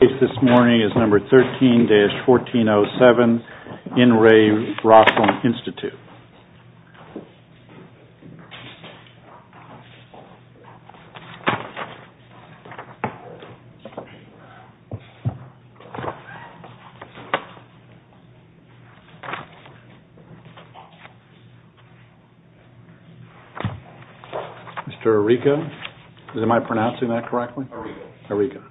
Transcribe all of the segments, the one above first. This case this morning is number 13-1407, In Re Roslin Institute. Mr. Eureka, am I pronouncing that correctly? Eureka.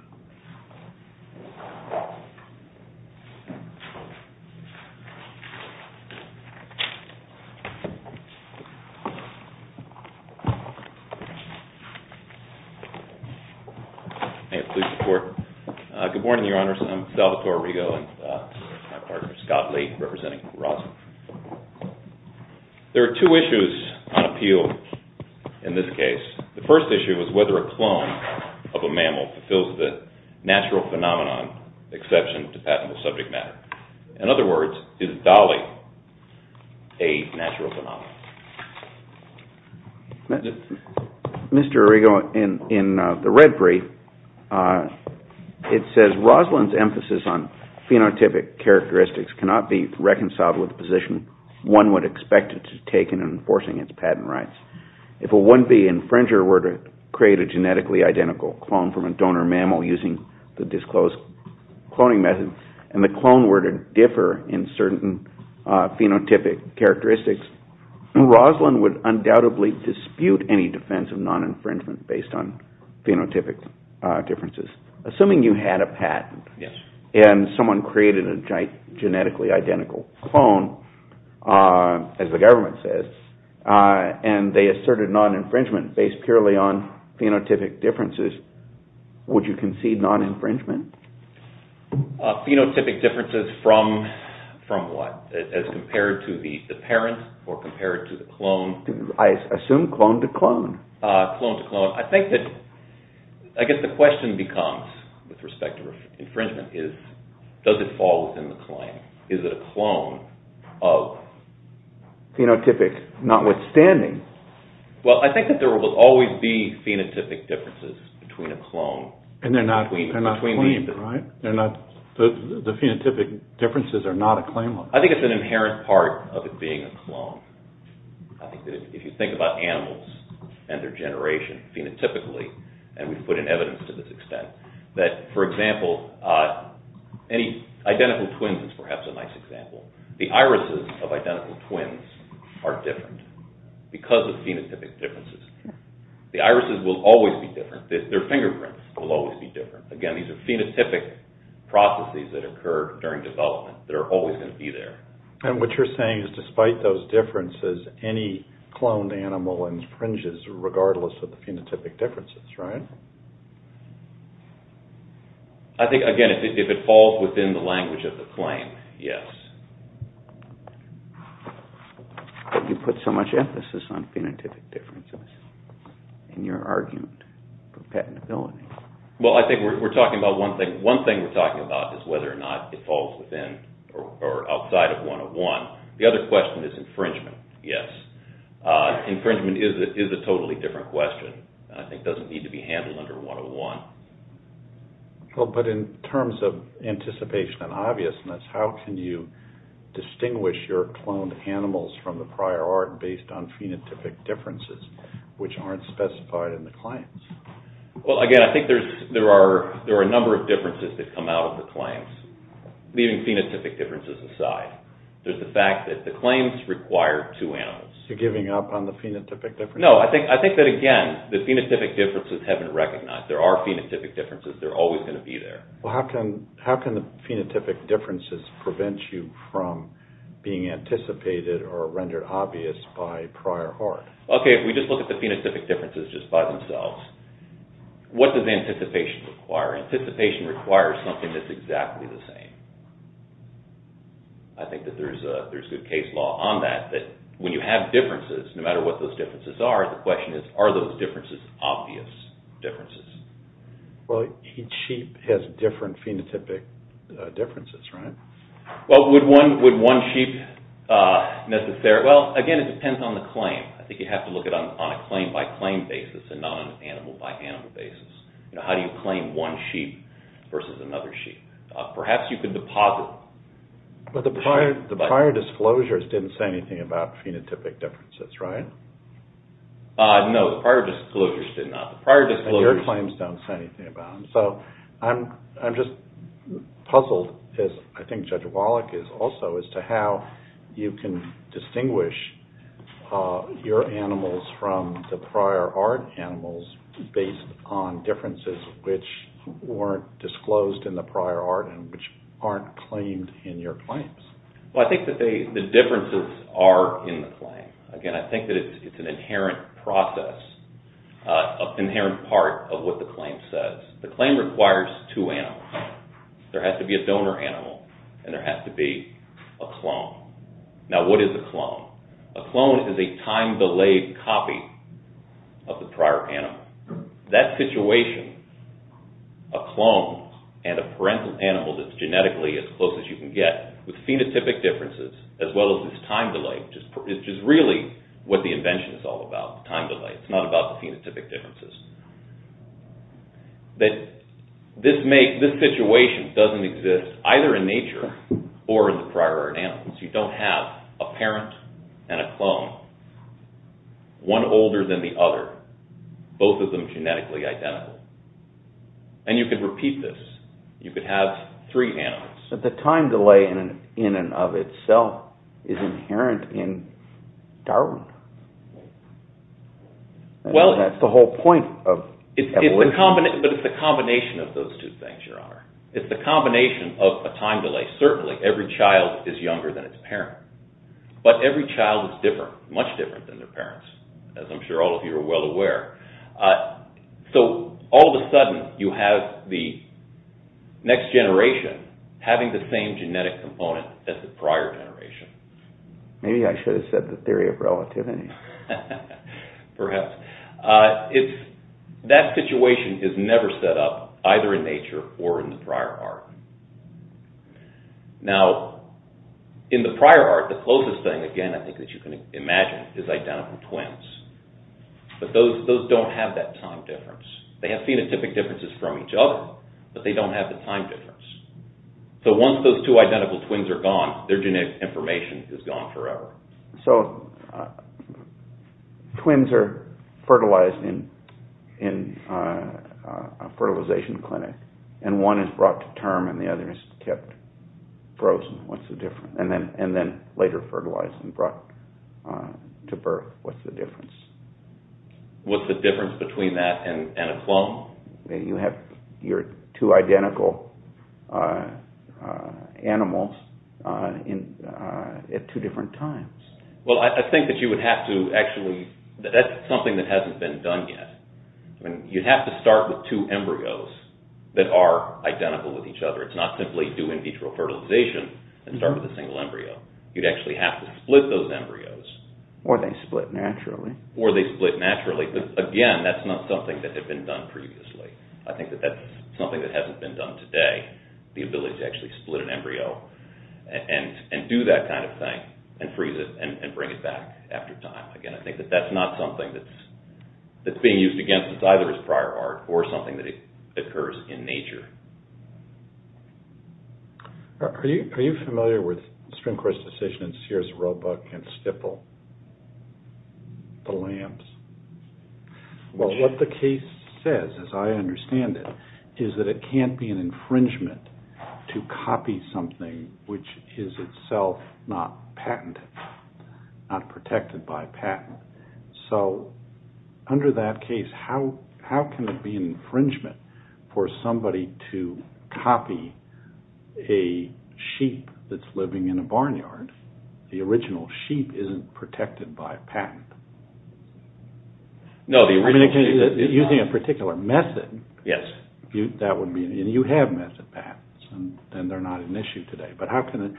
May it please the Court. Good morning, Your Honors. I'm Salvatore Eureka and this is my partner, Scott Lee, representing Roslin. There are two issues on appeal in this case. The first issue is whether a clone of a mammal fulfills the natural phenomenon exception to patentable subject matter. In other words, is Dolly a natural phenomenon? Mr. Eureka, in the red brief, it says Roslin's emphasis on phenotypic characteristics cannot be reconciled with the position one would expect it to take in enforcing its patent rights. If a 1B infringer were to create a genetically identical clone from a donor mammal using the disclosed cloning method, and the clone were to differ in certain phenotypic characteristics, Roslin would undoubtedly dispute any defense of non-infringement based on phenotypic differences. Assuming you had a patent and someone created a genetically identical clone, as the government says, and they asserted non-infringement based purely on phenotypic differences, would you concede non-infringement? Phenotypic differences from what? As compared to the parent or compared to the clone? I assume clone to clone. Clone to clone. I think that, I guess the question becomes, with respect to infringement, is does it fall within the claim? Is it a clone of? Phenotypic, notwithstanding. Well, I think that there will always be phenotypic differences between a clone. And they're not claimed, right? The phenotypic differences are not a claim. I think it's an inherent part of it being a clone. I think that if you think about animals and their generation, phenotypically, and we've put in evidence to this extent, that, for example, identical twins is perhaps a nice example. The irises of identical twins are different because of phenotypic differences. The irises will always be different. Their fingerprints will always be different. Again, these are phenotypic processes that occur during development that are always going to be there. And what you're saying is, despite those differences, any cloned animal infringes regardless of the phenotypic differences, right? I think, again, if it falls within the language of the claim, yes. You put so much emphasis on phenotypic differences in your argument for patentability. Well, I think we're talking about one thing. One thing we're talking about is whether or not it falls within or outside of 101. The other question is infringement, yes. Infringement is a totally different question. I think it doesn't need to be handled under 101. But in terms of anticipation and obviousness, how can you distinguish your cloned animals from the prior art based on phenotypic differences, which aren't specified in the claims? Well, again, I think there are a number of differences that come out of the claims, leaving phenotypic differences aside. There's the fact that the claims require two animals. You're giving up on the phenotypic differences? No, I think that, again, the phenotypic differences have been recognized. There are phenotypic differences. They're always going to be there. Well, how can the phenotypic differences prevent you from being anticipated or rendered obvious by prior art? Okay, if we just look at the phenotypic differences just by themselves, what does anticipation require? Anticipation requires something that's exactly the same. I think that there's good case law on that. When you have differences, no matter what those differences are, the question is, are those differences obvious differences? Well, each sheep has different phenotypic differences, right? Well, again, it depends on the claim. I think you have to look at it on a claim-by-claim basis and not on an animal-by-animal basis. How do you claim one sheep versus another sheep? Perhaps you could deposit... But the prior disclosures didn't say anything about phenotypic differences, right? No, the prior disclosures did not. And your claims don't say anything about them. So I'm just puzzled, as I think Judge Wallach is also, as to how you can distinguish your animals from the prior art animals based on differences which weren't disclosed in the prior art and which aren't claimed in your claims. Well, I think that the differences are in the claim. Again, I think that it's an inherent process, an inherent part of what the claim says. The claim requires two animals. There has to be a donor animal and there has to be a clone. Now, what is a clone? A clone is a time-delayed copy of the prior animal. That situation, a clone and a parental animal that's genetically as close as you can get with phenotypic differences as well as this time delay, which is really what the invention is all about, time delay. It's not about the phenotypic differences. This situation doesn't exist either in nature or in the prior art animals. You don't have a parent and a clone, one older than the other, both of them genetically identical. And you could repeat this. You could have three animals. But the time delay in and of itself is inherent in Darwin. That's the whole point of evolution. It's a combination of those two things, Your Honor. It's a combination of a time delay. Certainly, every child is younger than its parent, but every child is different, much different than their parents, as I'm sure all of you are well aware. So, all of a sudden, you have the next generation having the same genetic component as the prior generation. Maybe I should have said the theory of relativity. Perhaps. That situation is never set up either in nature or in the prior art. Now, in the prior art, the closest thing, again, I think that you can imagine is identical twins. But those don't have that time difference. They have phenotypic differences from each other, but they don't have the time difference. So, once those two identical twins are gone, their genetic information is gone forever. So, twins are fertilized in a fertilization clinic, and one is brought to term and the other is kept frozen. And then later fertilized and brought to birth. What's the difference? What's the difference between that and a clone? You have your two identical animals at two different times. Well, I think that you would have to actually, that's something that hasn't been done yet. You'd have to start with two embryos that are identical with each other. It's not simply do in vitro fertilization and start with a single embryo. You'd actually have to split those embryos. Or they split naturally. But, again, that's not something that had been done previously. I think that that's something that hasn't been done today. The ability to actually split an embryo and do that kind of thing and freeze it and bring it back after time. Again, I think that that's not something that's being used against us, either as prior art or something that occurs in nature. Are you familiar with Strimcore's decision in Sears, Roebuck, and Stipple, the lambs? Well, what the case says, as I understand it, is that it can't be an infringement to copy something which is itself not patented, not protected by patent. So, under that case, how can it be an infringement for somebody to copy a sheep that's living in a barnyard? The original sheep isn't protected by a patent. No, the original sheep is not. Using a particular method. Yes. And you have method patents, and they're not an issue today. But how can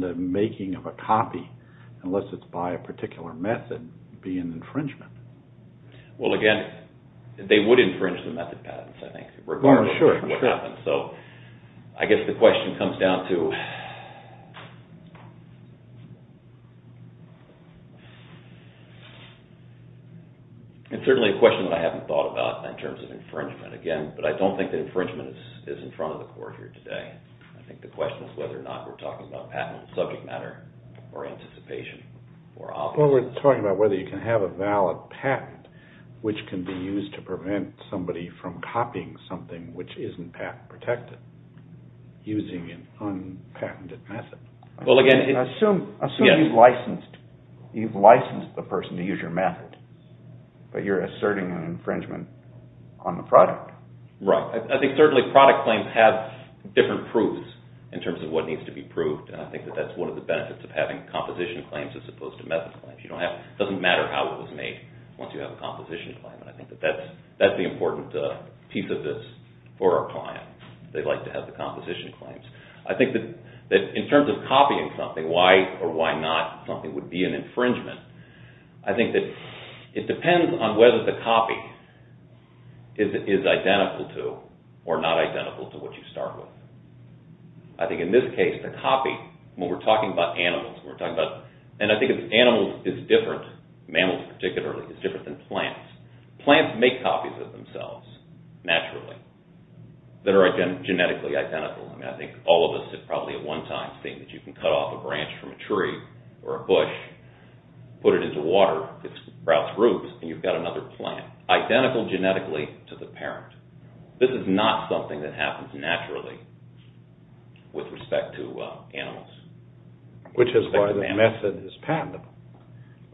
the making of a copy, unless it's by a particular method, be an infringement? Well, again, they would infringe the method patents, I think, regardless of what happens. So, I guess the question comes down to... It's certainly a question that I haven't thought about in terms of infringement, again, but I don't think that infringement is in front of the court here today. I think the question is whether or not we're talking about patent in subject matter, or anticipation, or obvious. Well, we're talking about whether you can have a valid patent, which can be used to prevent somebody from copying something which isn't patent protected, using an unpatented method. Assume you've licensed the person to use your method, but you're asserting an infringement on the product. Right. I think certainly product claims have different proofs, in terms of what needs to be proved. And I think that's one of the benefits of having composition claims as opposed to method claims. It doesn't matter how it was made, once you have a composition claim. And I think that's the important piece of this for our clients. They like to have the composition claims. I think that in terms of copying something, why or why not something would be an infringement, I think that it depends on whether the copy is identical to or not identical to what you start with. I think in this case, the copy, when we're talking about animals, and I think animals is different, mammals particularly, is different than plants. Plants make copies of themselves, naturally, that are genetically identical. I think all of us have probably at one time seen that you can cut off a branch from a tree or a bush, put it into water, it sprouts roots, and you've got another plant, identical genetically to the parent. This is not something that happens naturally with respect to animals. Which is why the method is patentable.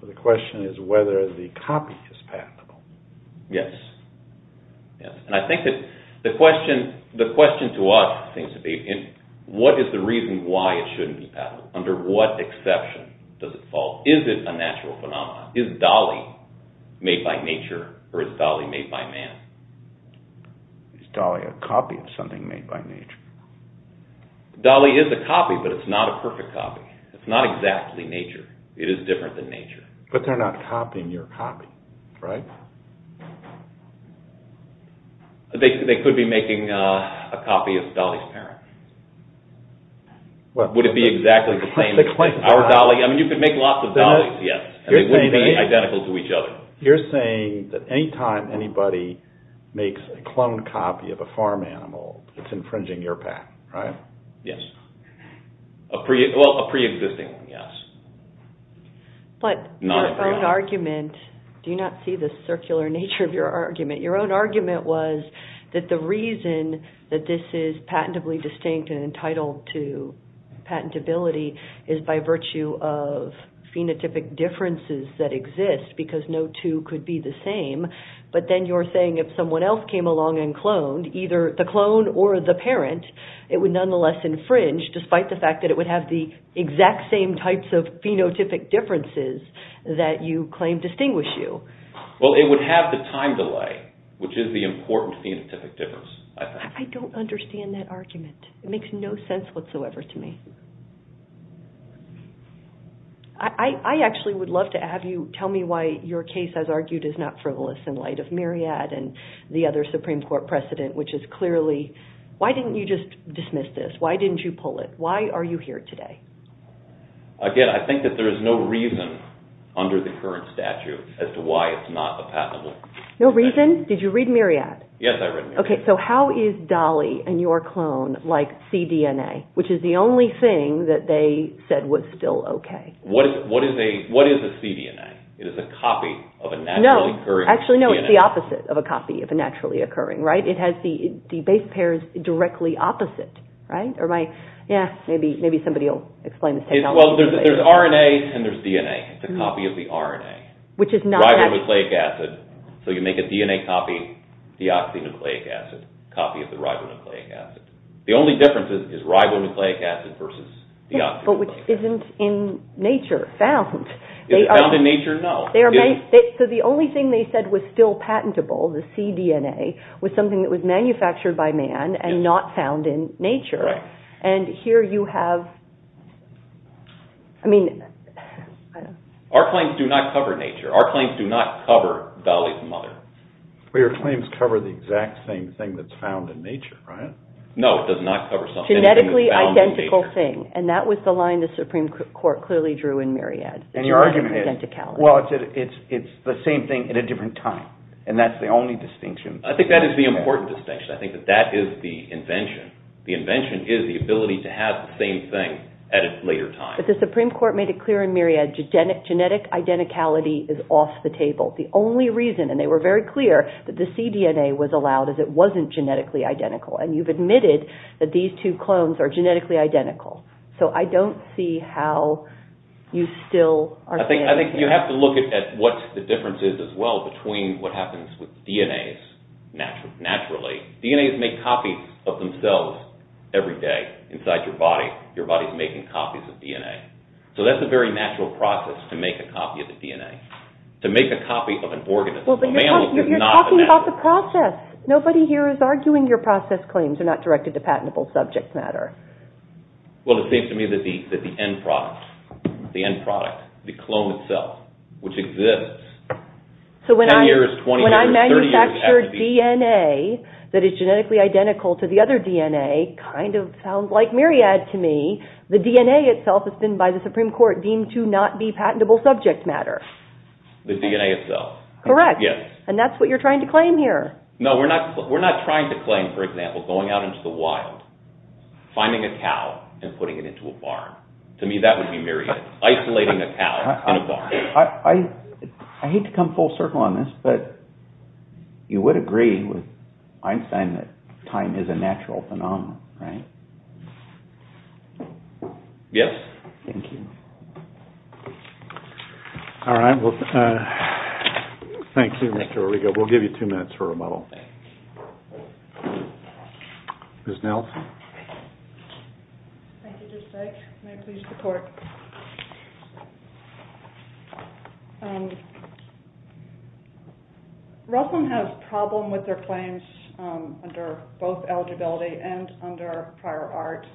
The question is whether the copy is patentable. Yes. And I think that the question to us seems to be, what is the reason why it shouldn't be patentable? Under what exception does it fall? Is it a natural phenomenon? Is Dolly made by nature, or is Dolly made by man? Is Dolly a copy of something made by nature? Dolly is a copy, but it's not a perfect copy. It's not exactly nature. It is different than nature. But they're not copying your copy, right? They could be making a copy of Dolly's parent. Would it be exactly the same? I mean, you could make lots of Dollys, yes. They wouldn't be identical to each other. You're saying that any time anybody makes a cloned copy of a farm animal, it's infringing your patent, right? Yes. Well, a pre-existing one, yes. But your own argument—do you not see the circular nature of your argument? Your own argument was that the reason that this is patentably distinct and entitled to patentability is by virtue of phenotypic differences that exist, because no two could be the same. But then you're saying if someone else came along and cloned, either the clone or the parent, it would nonetheless infringe, despite the fact that it would have the exact same types of phenotypic differences that you claim distinguish you. Well, it would have the time delay, which is the important phenotypic difference, I think. I don't understand that argument. It makes no sense whatsoever to me. I actually would love to have you tell me why your case, as argued, is not frivolous in light of Myriad and the other Supreme Court precedent, which is clearly—why didn't you just dismiss this? Why didn't you pull it? Why are you here today? Again, I think that there is no reason under the current statute as to why it's not a patentable. No reason? Did you read Myriad? Yes, I read Myriad. Okay, so how is Dolly and your clone like cDNA, which is the only thing that they said was still okay? What is a cDNA? It is a copy of a naturally occurring cDNA. Actually, no, it's the opposite of a copy of a naturally occurring, right? It has the base pairs directly opposite, right? Maybe somebody will explain this technology. Well, there's RNA and there's DNA. It's a copy of the RNA. Ribonucleic acid. So you make a DNA copy, deoxynucleic acid, copy of the ribonucleic acid. The only difference is ribonucleic acid versus deoxynucleic acid. Yes, but which isn't in nature, found. Is it found in nature? No. So the only thing they said was still patentable, the cDNA, was something that was manufactured by man and not found in nature. And here you have, I mean. Our claims do not cover nature. Our claims do not cover Dolly's mother. But your claims cover the exact same thing that's found in nature, right? No, it does not cover something. Genetically identical thing, and that was the line the Supreme Court clearly drew in Myriad. And your argument is? Well, it's the same thing at a different time. And that's the only distinction. I think that is the important distinction. I think that that is the invention. The invention is the ability to have the same thing at a later time. But the Supreme Court made it clear in Myriad genetic identicality is off the table. The only reason, and they were very clear, that the cDNA was allowed is it wasn't genetically identical. And you've admitted that these two clones are genetically identical. So I don't see how you still are saying. I think you have to look at what the difference is as well between what happens with DNAs naturally. DNAs make copies of themselves every day inside your body. Your body is making copies of DNA. So that's a very natural process to make a copy of the DNA. To make a copy of an organism. Well, but you're talking about the process. Nobody here is arguing your process claims are not directed to patentable subject matter. Well, it seems to me that the end product, the clone itself, which exists. So when I manufactured DNA that is genetically identical to the other DNA, kind of sounds like Myriad to me. The DNA itself has been by the Supreme Court deemed to not be patentable subject matter. The DNA itself. Correct. Yes. And that's what you're trying to claim here. No, we're not trying to claim, for example, going out into the wild. Finding a cow and putting it into a barn. To me, that would be Myriad. Isolating a cow in a barn. I hate to come full circle on this, but you would agree with Einstein that time is a natural phenomenon, right? Yes. Thank you. All right. Thank you, Mr. Origo. We'll give you two minutes for rebuttal. Ms. Nelson. Thank you. Just a second. May it please the Court. Ruslan has a problem with their claims under both eligibility and under prior art.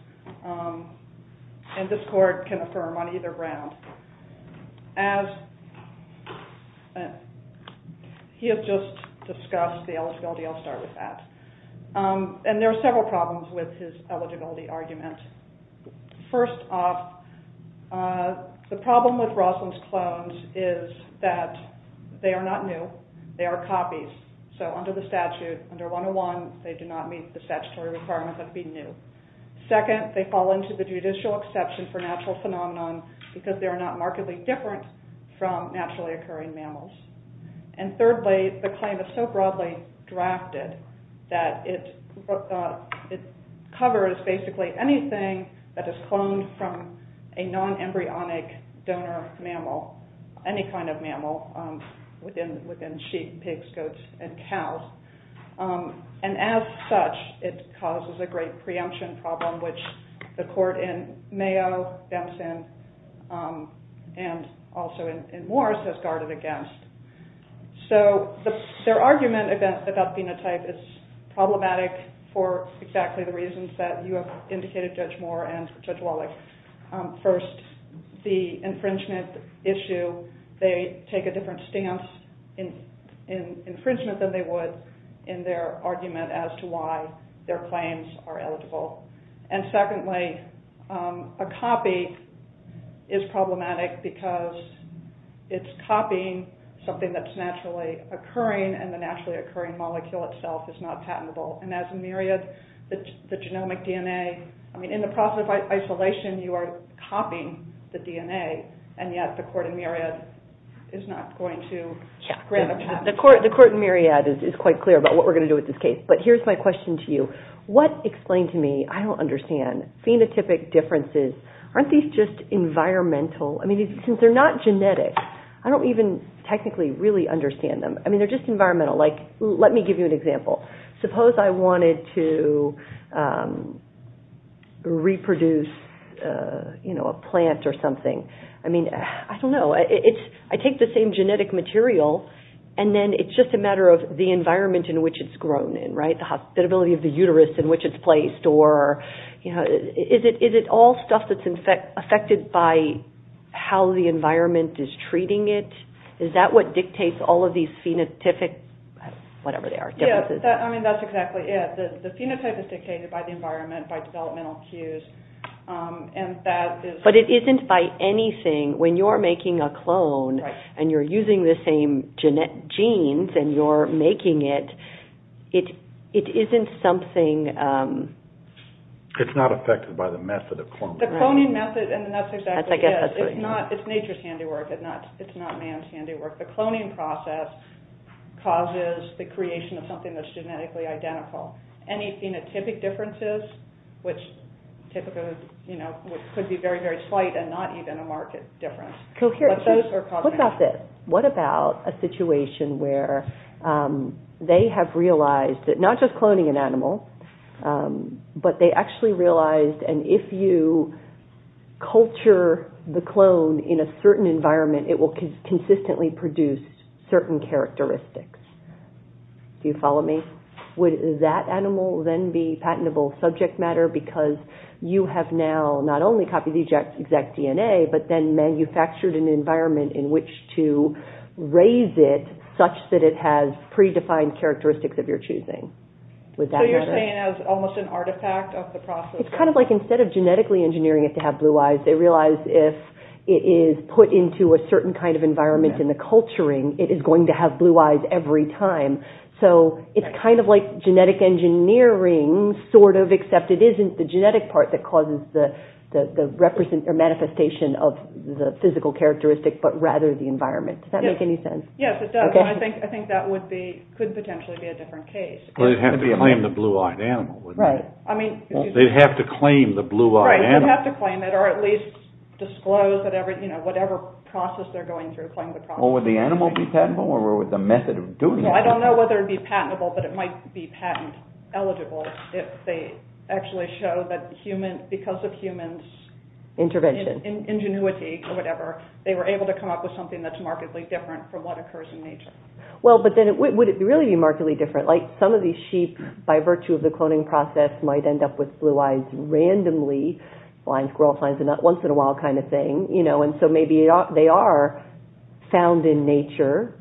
And this Court can affirm on either ground. As he has just discussed the eligibility, I'll start with that. And there are several problems with his eligibility argument. First off, the problem with Ruslan's clones is that they are not new. They are copies. So under the statute, under 101, they do not meet the statutory requirement of being new. Second, they fall into the judicial exception for natural phenomenon because they are not markedly different from naturally occurring mammals. And thirdly, the claim is so broadly drafted that it covers basically anything that is cloned from a non-embryonic donor mammal, any kind of mammal within sheep, pigs, goats, and cows. And as such, it causes a great preemption problem, which the Court in Mayo, Dempson, and also in Moores has guarded against. So their argument about phenotype is problematic for exactly the reasons that you have indicated, Judge Moore and Judge Wallach. First, the infringement issue, they take a different stance in infringement than they would in their argument as to why their claims are eligible. And secondly, a copy is problematic because it's copying something that's naturally occurring and the naturally occurring molecule itself is not patentable. And as in Myriad, the genomic DNA, in the process of isolation, you are copying the DNA, and yet the Court in Myriad is not going to grant a patent. The Court in Myriad is quite clear about what we're going to do with this case. But here's my question to you. What, explain to me, I don't understand, phenotypic differences, aren't these just environmental? I mean, since they're not genetic, I don't even technically really understand them. I mean, they're just environmental. Like, let me give you an example. Suppose I wanted to reproduce, you know, a plant or something. I mean, I don't know. I take the same genetic material, and then it's just a matter of the environment in which it's grown in, right? The hospitability of the uterus in which it's placed, or, you know, is it all stuff that's affected by how the environment is treating it? Is that what dictates all of these phenotypic, whatever they are, differences? I mean, that's exactly it. The phenotype is dictated by the environment, by developmental cues, and that is... But it isn't by anything. When you're making a clone and you're using the same genes and you're making it, it isn't something... It's not affected by the method of cloning. The cloning method, and that's exactly it. It's not, it's nature's handiwork. It's not man's handiwork. The cloning process causes the creation of something that's genetically identical. Any phenotypic differences, which typically, you know, could be very, very slight and not even a marked difference. What about this? What about a situation where they have realized, not just cloning an animal, but they actually realized, and if you culture the clone in a certain environment, it will consistently produce certain characteristics? Do you follow me? Would that animal then be patentable subject matter because you have now not only copied the exact DNA, but then manufactured an environment in which to raise it such that it has predefined characteristics of your choosing? Would that matter? So you're saying it's almost an artifact of the process? It's kind of like instead of genetically engineering it to have blue eyes, they realize if it is put into a certain kind of environment in the culturing, it is going to have blue eyes every time. So it's kind of like genetic engineering, sort of, except it isn't the genetic part that causes the manifestation of the physical characteristic, but rather the environment. Does that make any sense? Yes, it does. I think that could potentially be a different case. They'd have to claim the blue-eyed animal, wouldn't they? Right. They'd have to claim the blue-eyed animal. Right, they'd have to claim it, or at least disclose whatever process they're going through. Would the animal be patentable, or would the method of doing it be patentable? I don't know whether it would be patentable, but it might be patent-eligible if they actually show that because of humans' ingenuity, they were able to come up with something that's markedly different from what occurs in nature. Well, but then would it really be markedly different? Like some of these sheep, by virtue of the cloning process, might end up with blue eyes randomly, blind squirrel finds a nut once in a while kind of thing, and so maybe they are found in nature,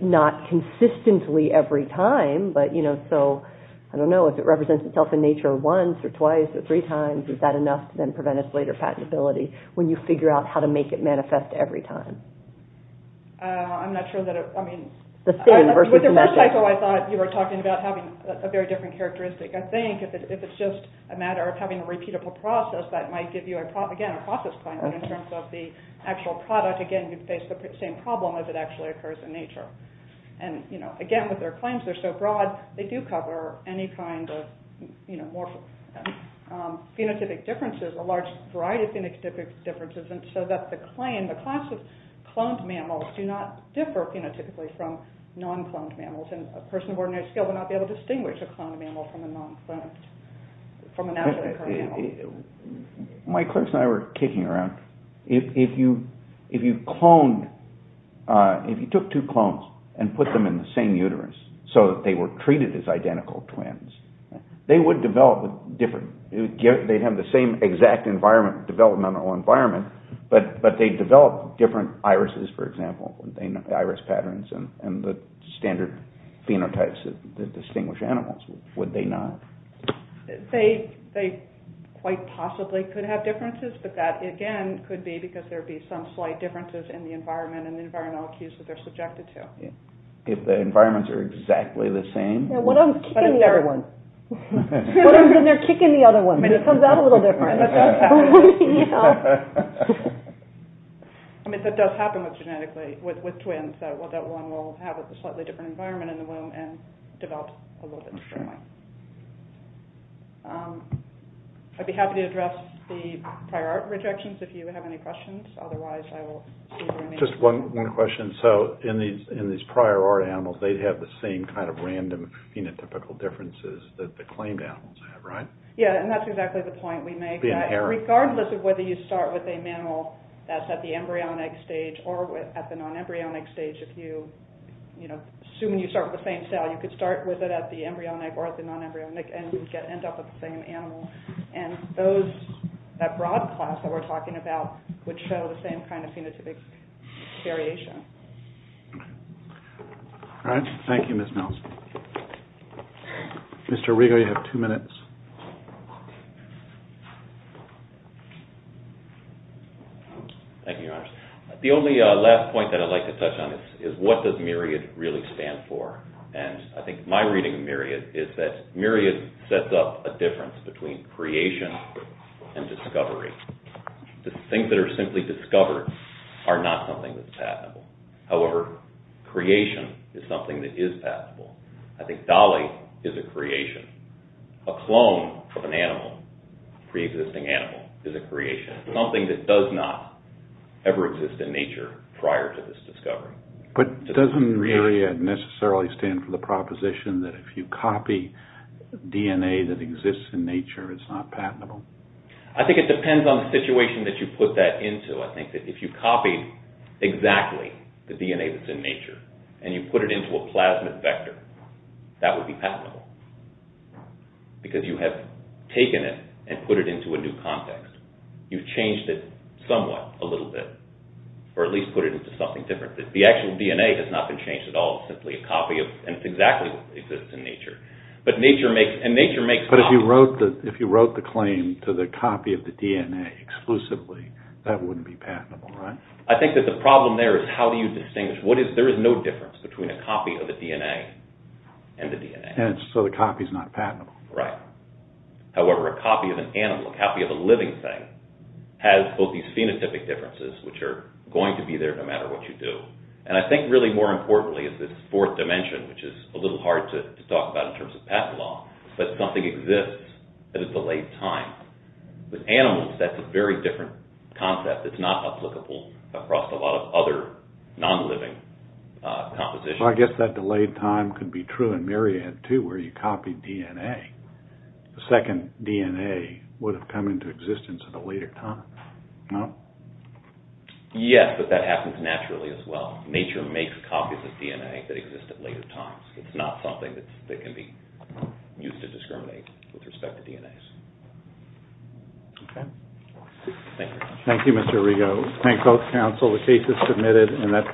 not consistently every time, but so, I don't know, if it represents itself in nature once or twice or three times, is that enough to then prevent its later patentability when you figure out how to make it manifest every time? I'm not sure that it, I mean, with the red psycho, I thought you were talking about having a very different characteristic. I think if it's just a matter of having a repeatable process, that might give you, again, a process claim, but in terms of the actual product, again, you'd face the same problem as it actually occurs in nature. And, you know, again, with their claims, they're so broad, they do cover any kind of, you know, phenotypic differences, a large variety of phenotypic differences, and so that the claim, the class of cloned mammals do not differ phenotypically from non-cloned mammals, and a person of ordinary skill would not be able to distinguish a cloned mammal from a non-cloned, from a naturally occurring mammal. My clerks and I were kicking around. If you cloned, if you took two clones and put them in the same uterus, so that they were treated as identical twins, they would develop different, they'd have the same exact environment, developmental environment, but they'd develop different irises, for example, iris patterns, and the standard phenotypes that distinguish animals, would they not? They quite possibly could have differences, but that, again, could be because there would be some slight differences in the environment and the environmental cues that they're subjected to. If the environments are exactly the same? One of them's kicking the other one. One of them's in there kicking the other one. It comes out a little different. I mean, that does happen genetically with twins, that one will have a slightly different environment in the womb and develop a little bit differently. I'd be happy to address the prior art rejections if you have any questions. Otherwise, I will see if there are any. Just one question. So in these prior art animals, they'd have the same kind of random phenotypical differences that the claimed animals have, right? Yeah, and that's exactly the point we make. Regardless of whether you start with a mammal that's at the embryonic stage or at the non-embryonic stage, if you, you know, assume you start with the same cell, you could start with it at the embryonic or at the non-embryonic and end up with the same animal. And that broad class that we're talking about would show the same kind of phenotypic variation. All right. Thank you, Ms. Nelson. Mr. Riegel, you have two minutes. Thank you, Your Honors. The only last point that I'd like to touch on is what does myriad really stand for? And I think my reading of myriad is that myriad sets up a difference between creation and discovery. The things that are simply discovered are not something that's patentable. However, creation is something that is patentable. I think Dolly is a creation. A clone of an animal, a preexisting animal, is a creation, something that does not ever exist in nature prior to this discovery. But doesn't myriad necessarily stand for the proposition that if you copy DNA that exists in nature, it's not patentable? I think it depends on the situation that you put that into. I think that if you copied exactly the DNA that's in nature and you put it into a plasmid vector, that would be patentable. Because you have taken it and put it into a new context. You've changed it somewhat, a little bit, or at least put it into something different. The actual DNA has not been changed at all. It's simply a copy and it's exactly what exists in nature. And nature makes copies. But if you wrote the claim to the copy of the DNA exclusively, that wouldn't be patentable, right? I think that the problem there is how do you distinguish? There is no difference between a copy of the DNA and the DNA. And so the copy is not patentable. Right. However, a copy of an animal, a copy of a living thing, has both these phenotypic differences, which are going to be there no matter what you do. And I think really more importantly is this fourth dimension, which is a little hard to talk about in terms of patent law. But something exists at a delayed time. With animals, that's a very different concept. It's not applicable across a lot of other non-living compositions. Well, I guess that delayed time could be true in myriad, too, where you copied DNA. The second DNA would have come into existence at a later time, no? Yes, but that happens naturally as well. Nature makes copies of DNA that exist at later times. It's not something that can be used to discriminate with respect to DNAs. Okay. Thank you very much. Thank you, Mr. Rego. Thank both counsel. The case is submitted. And that concludes the hearing.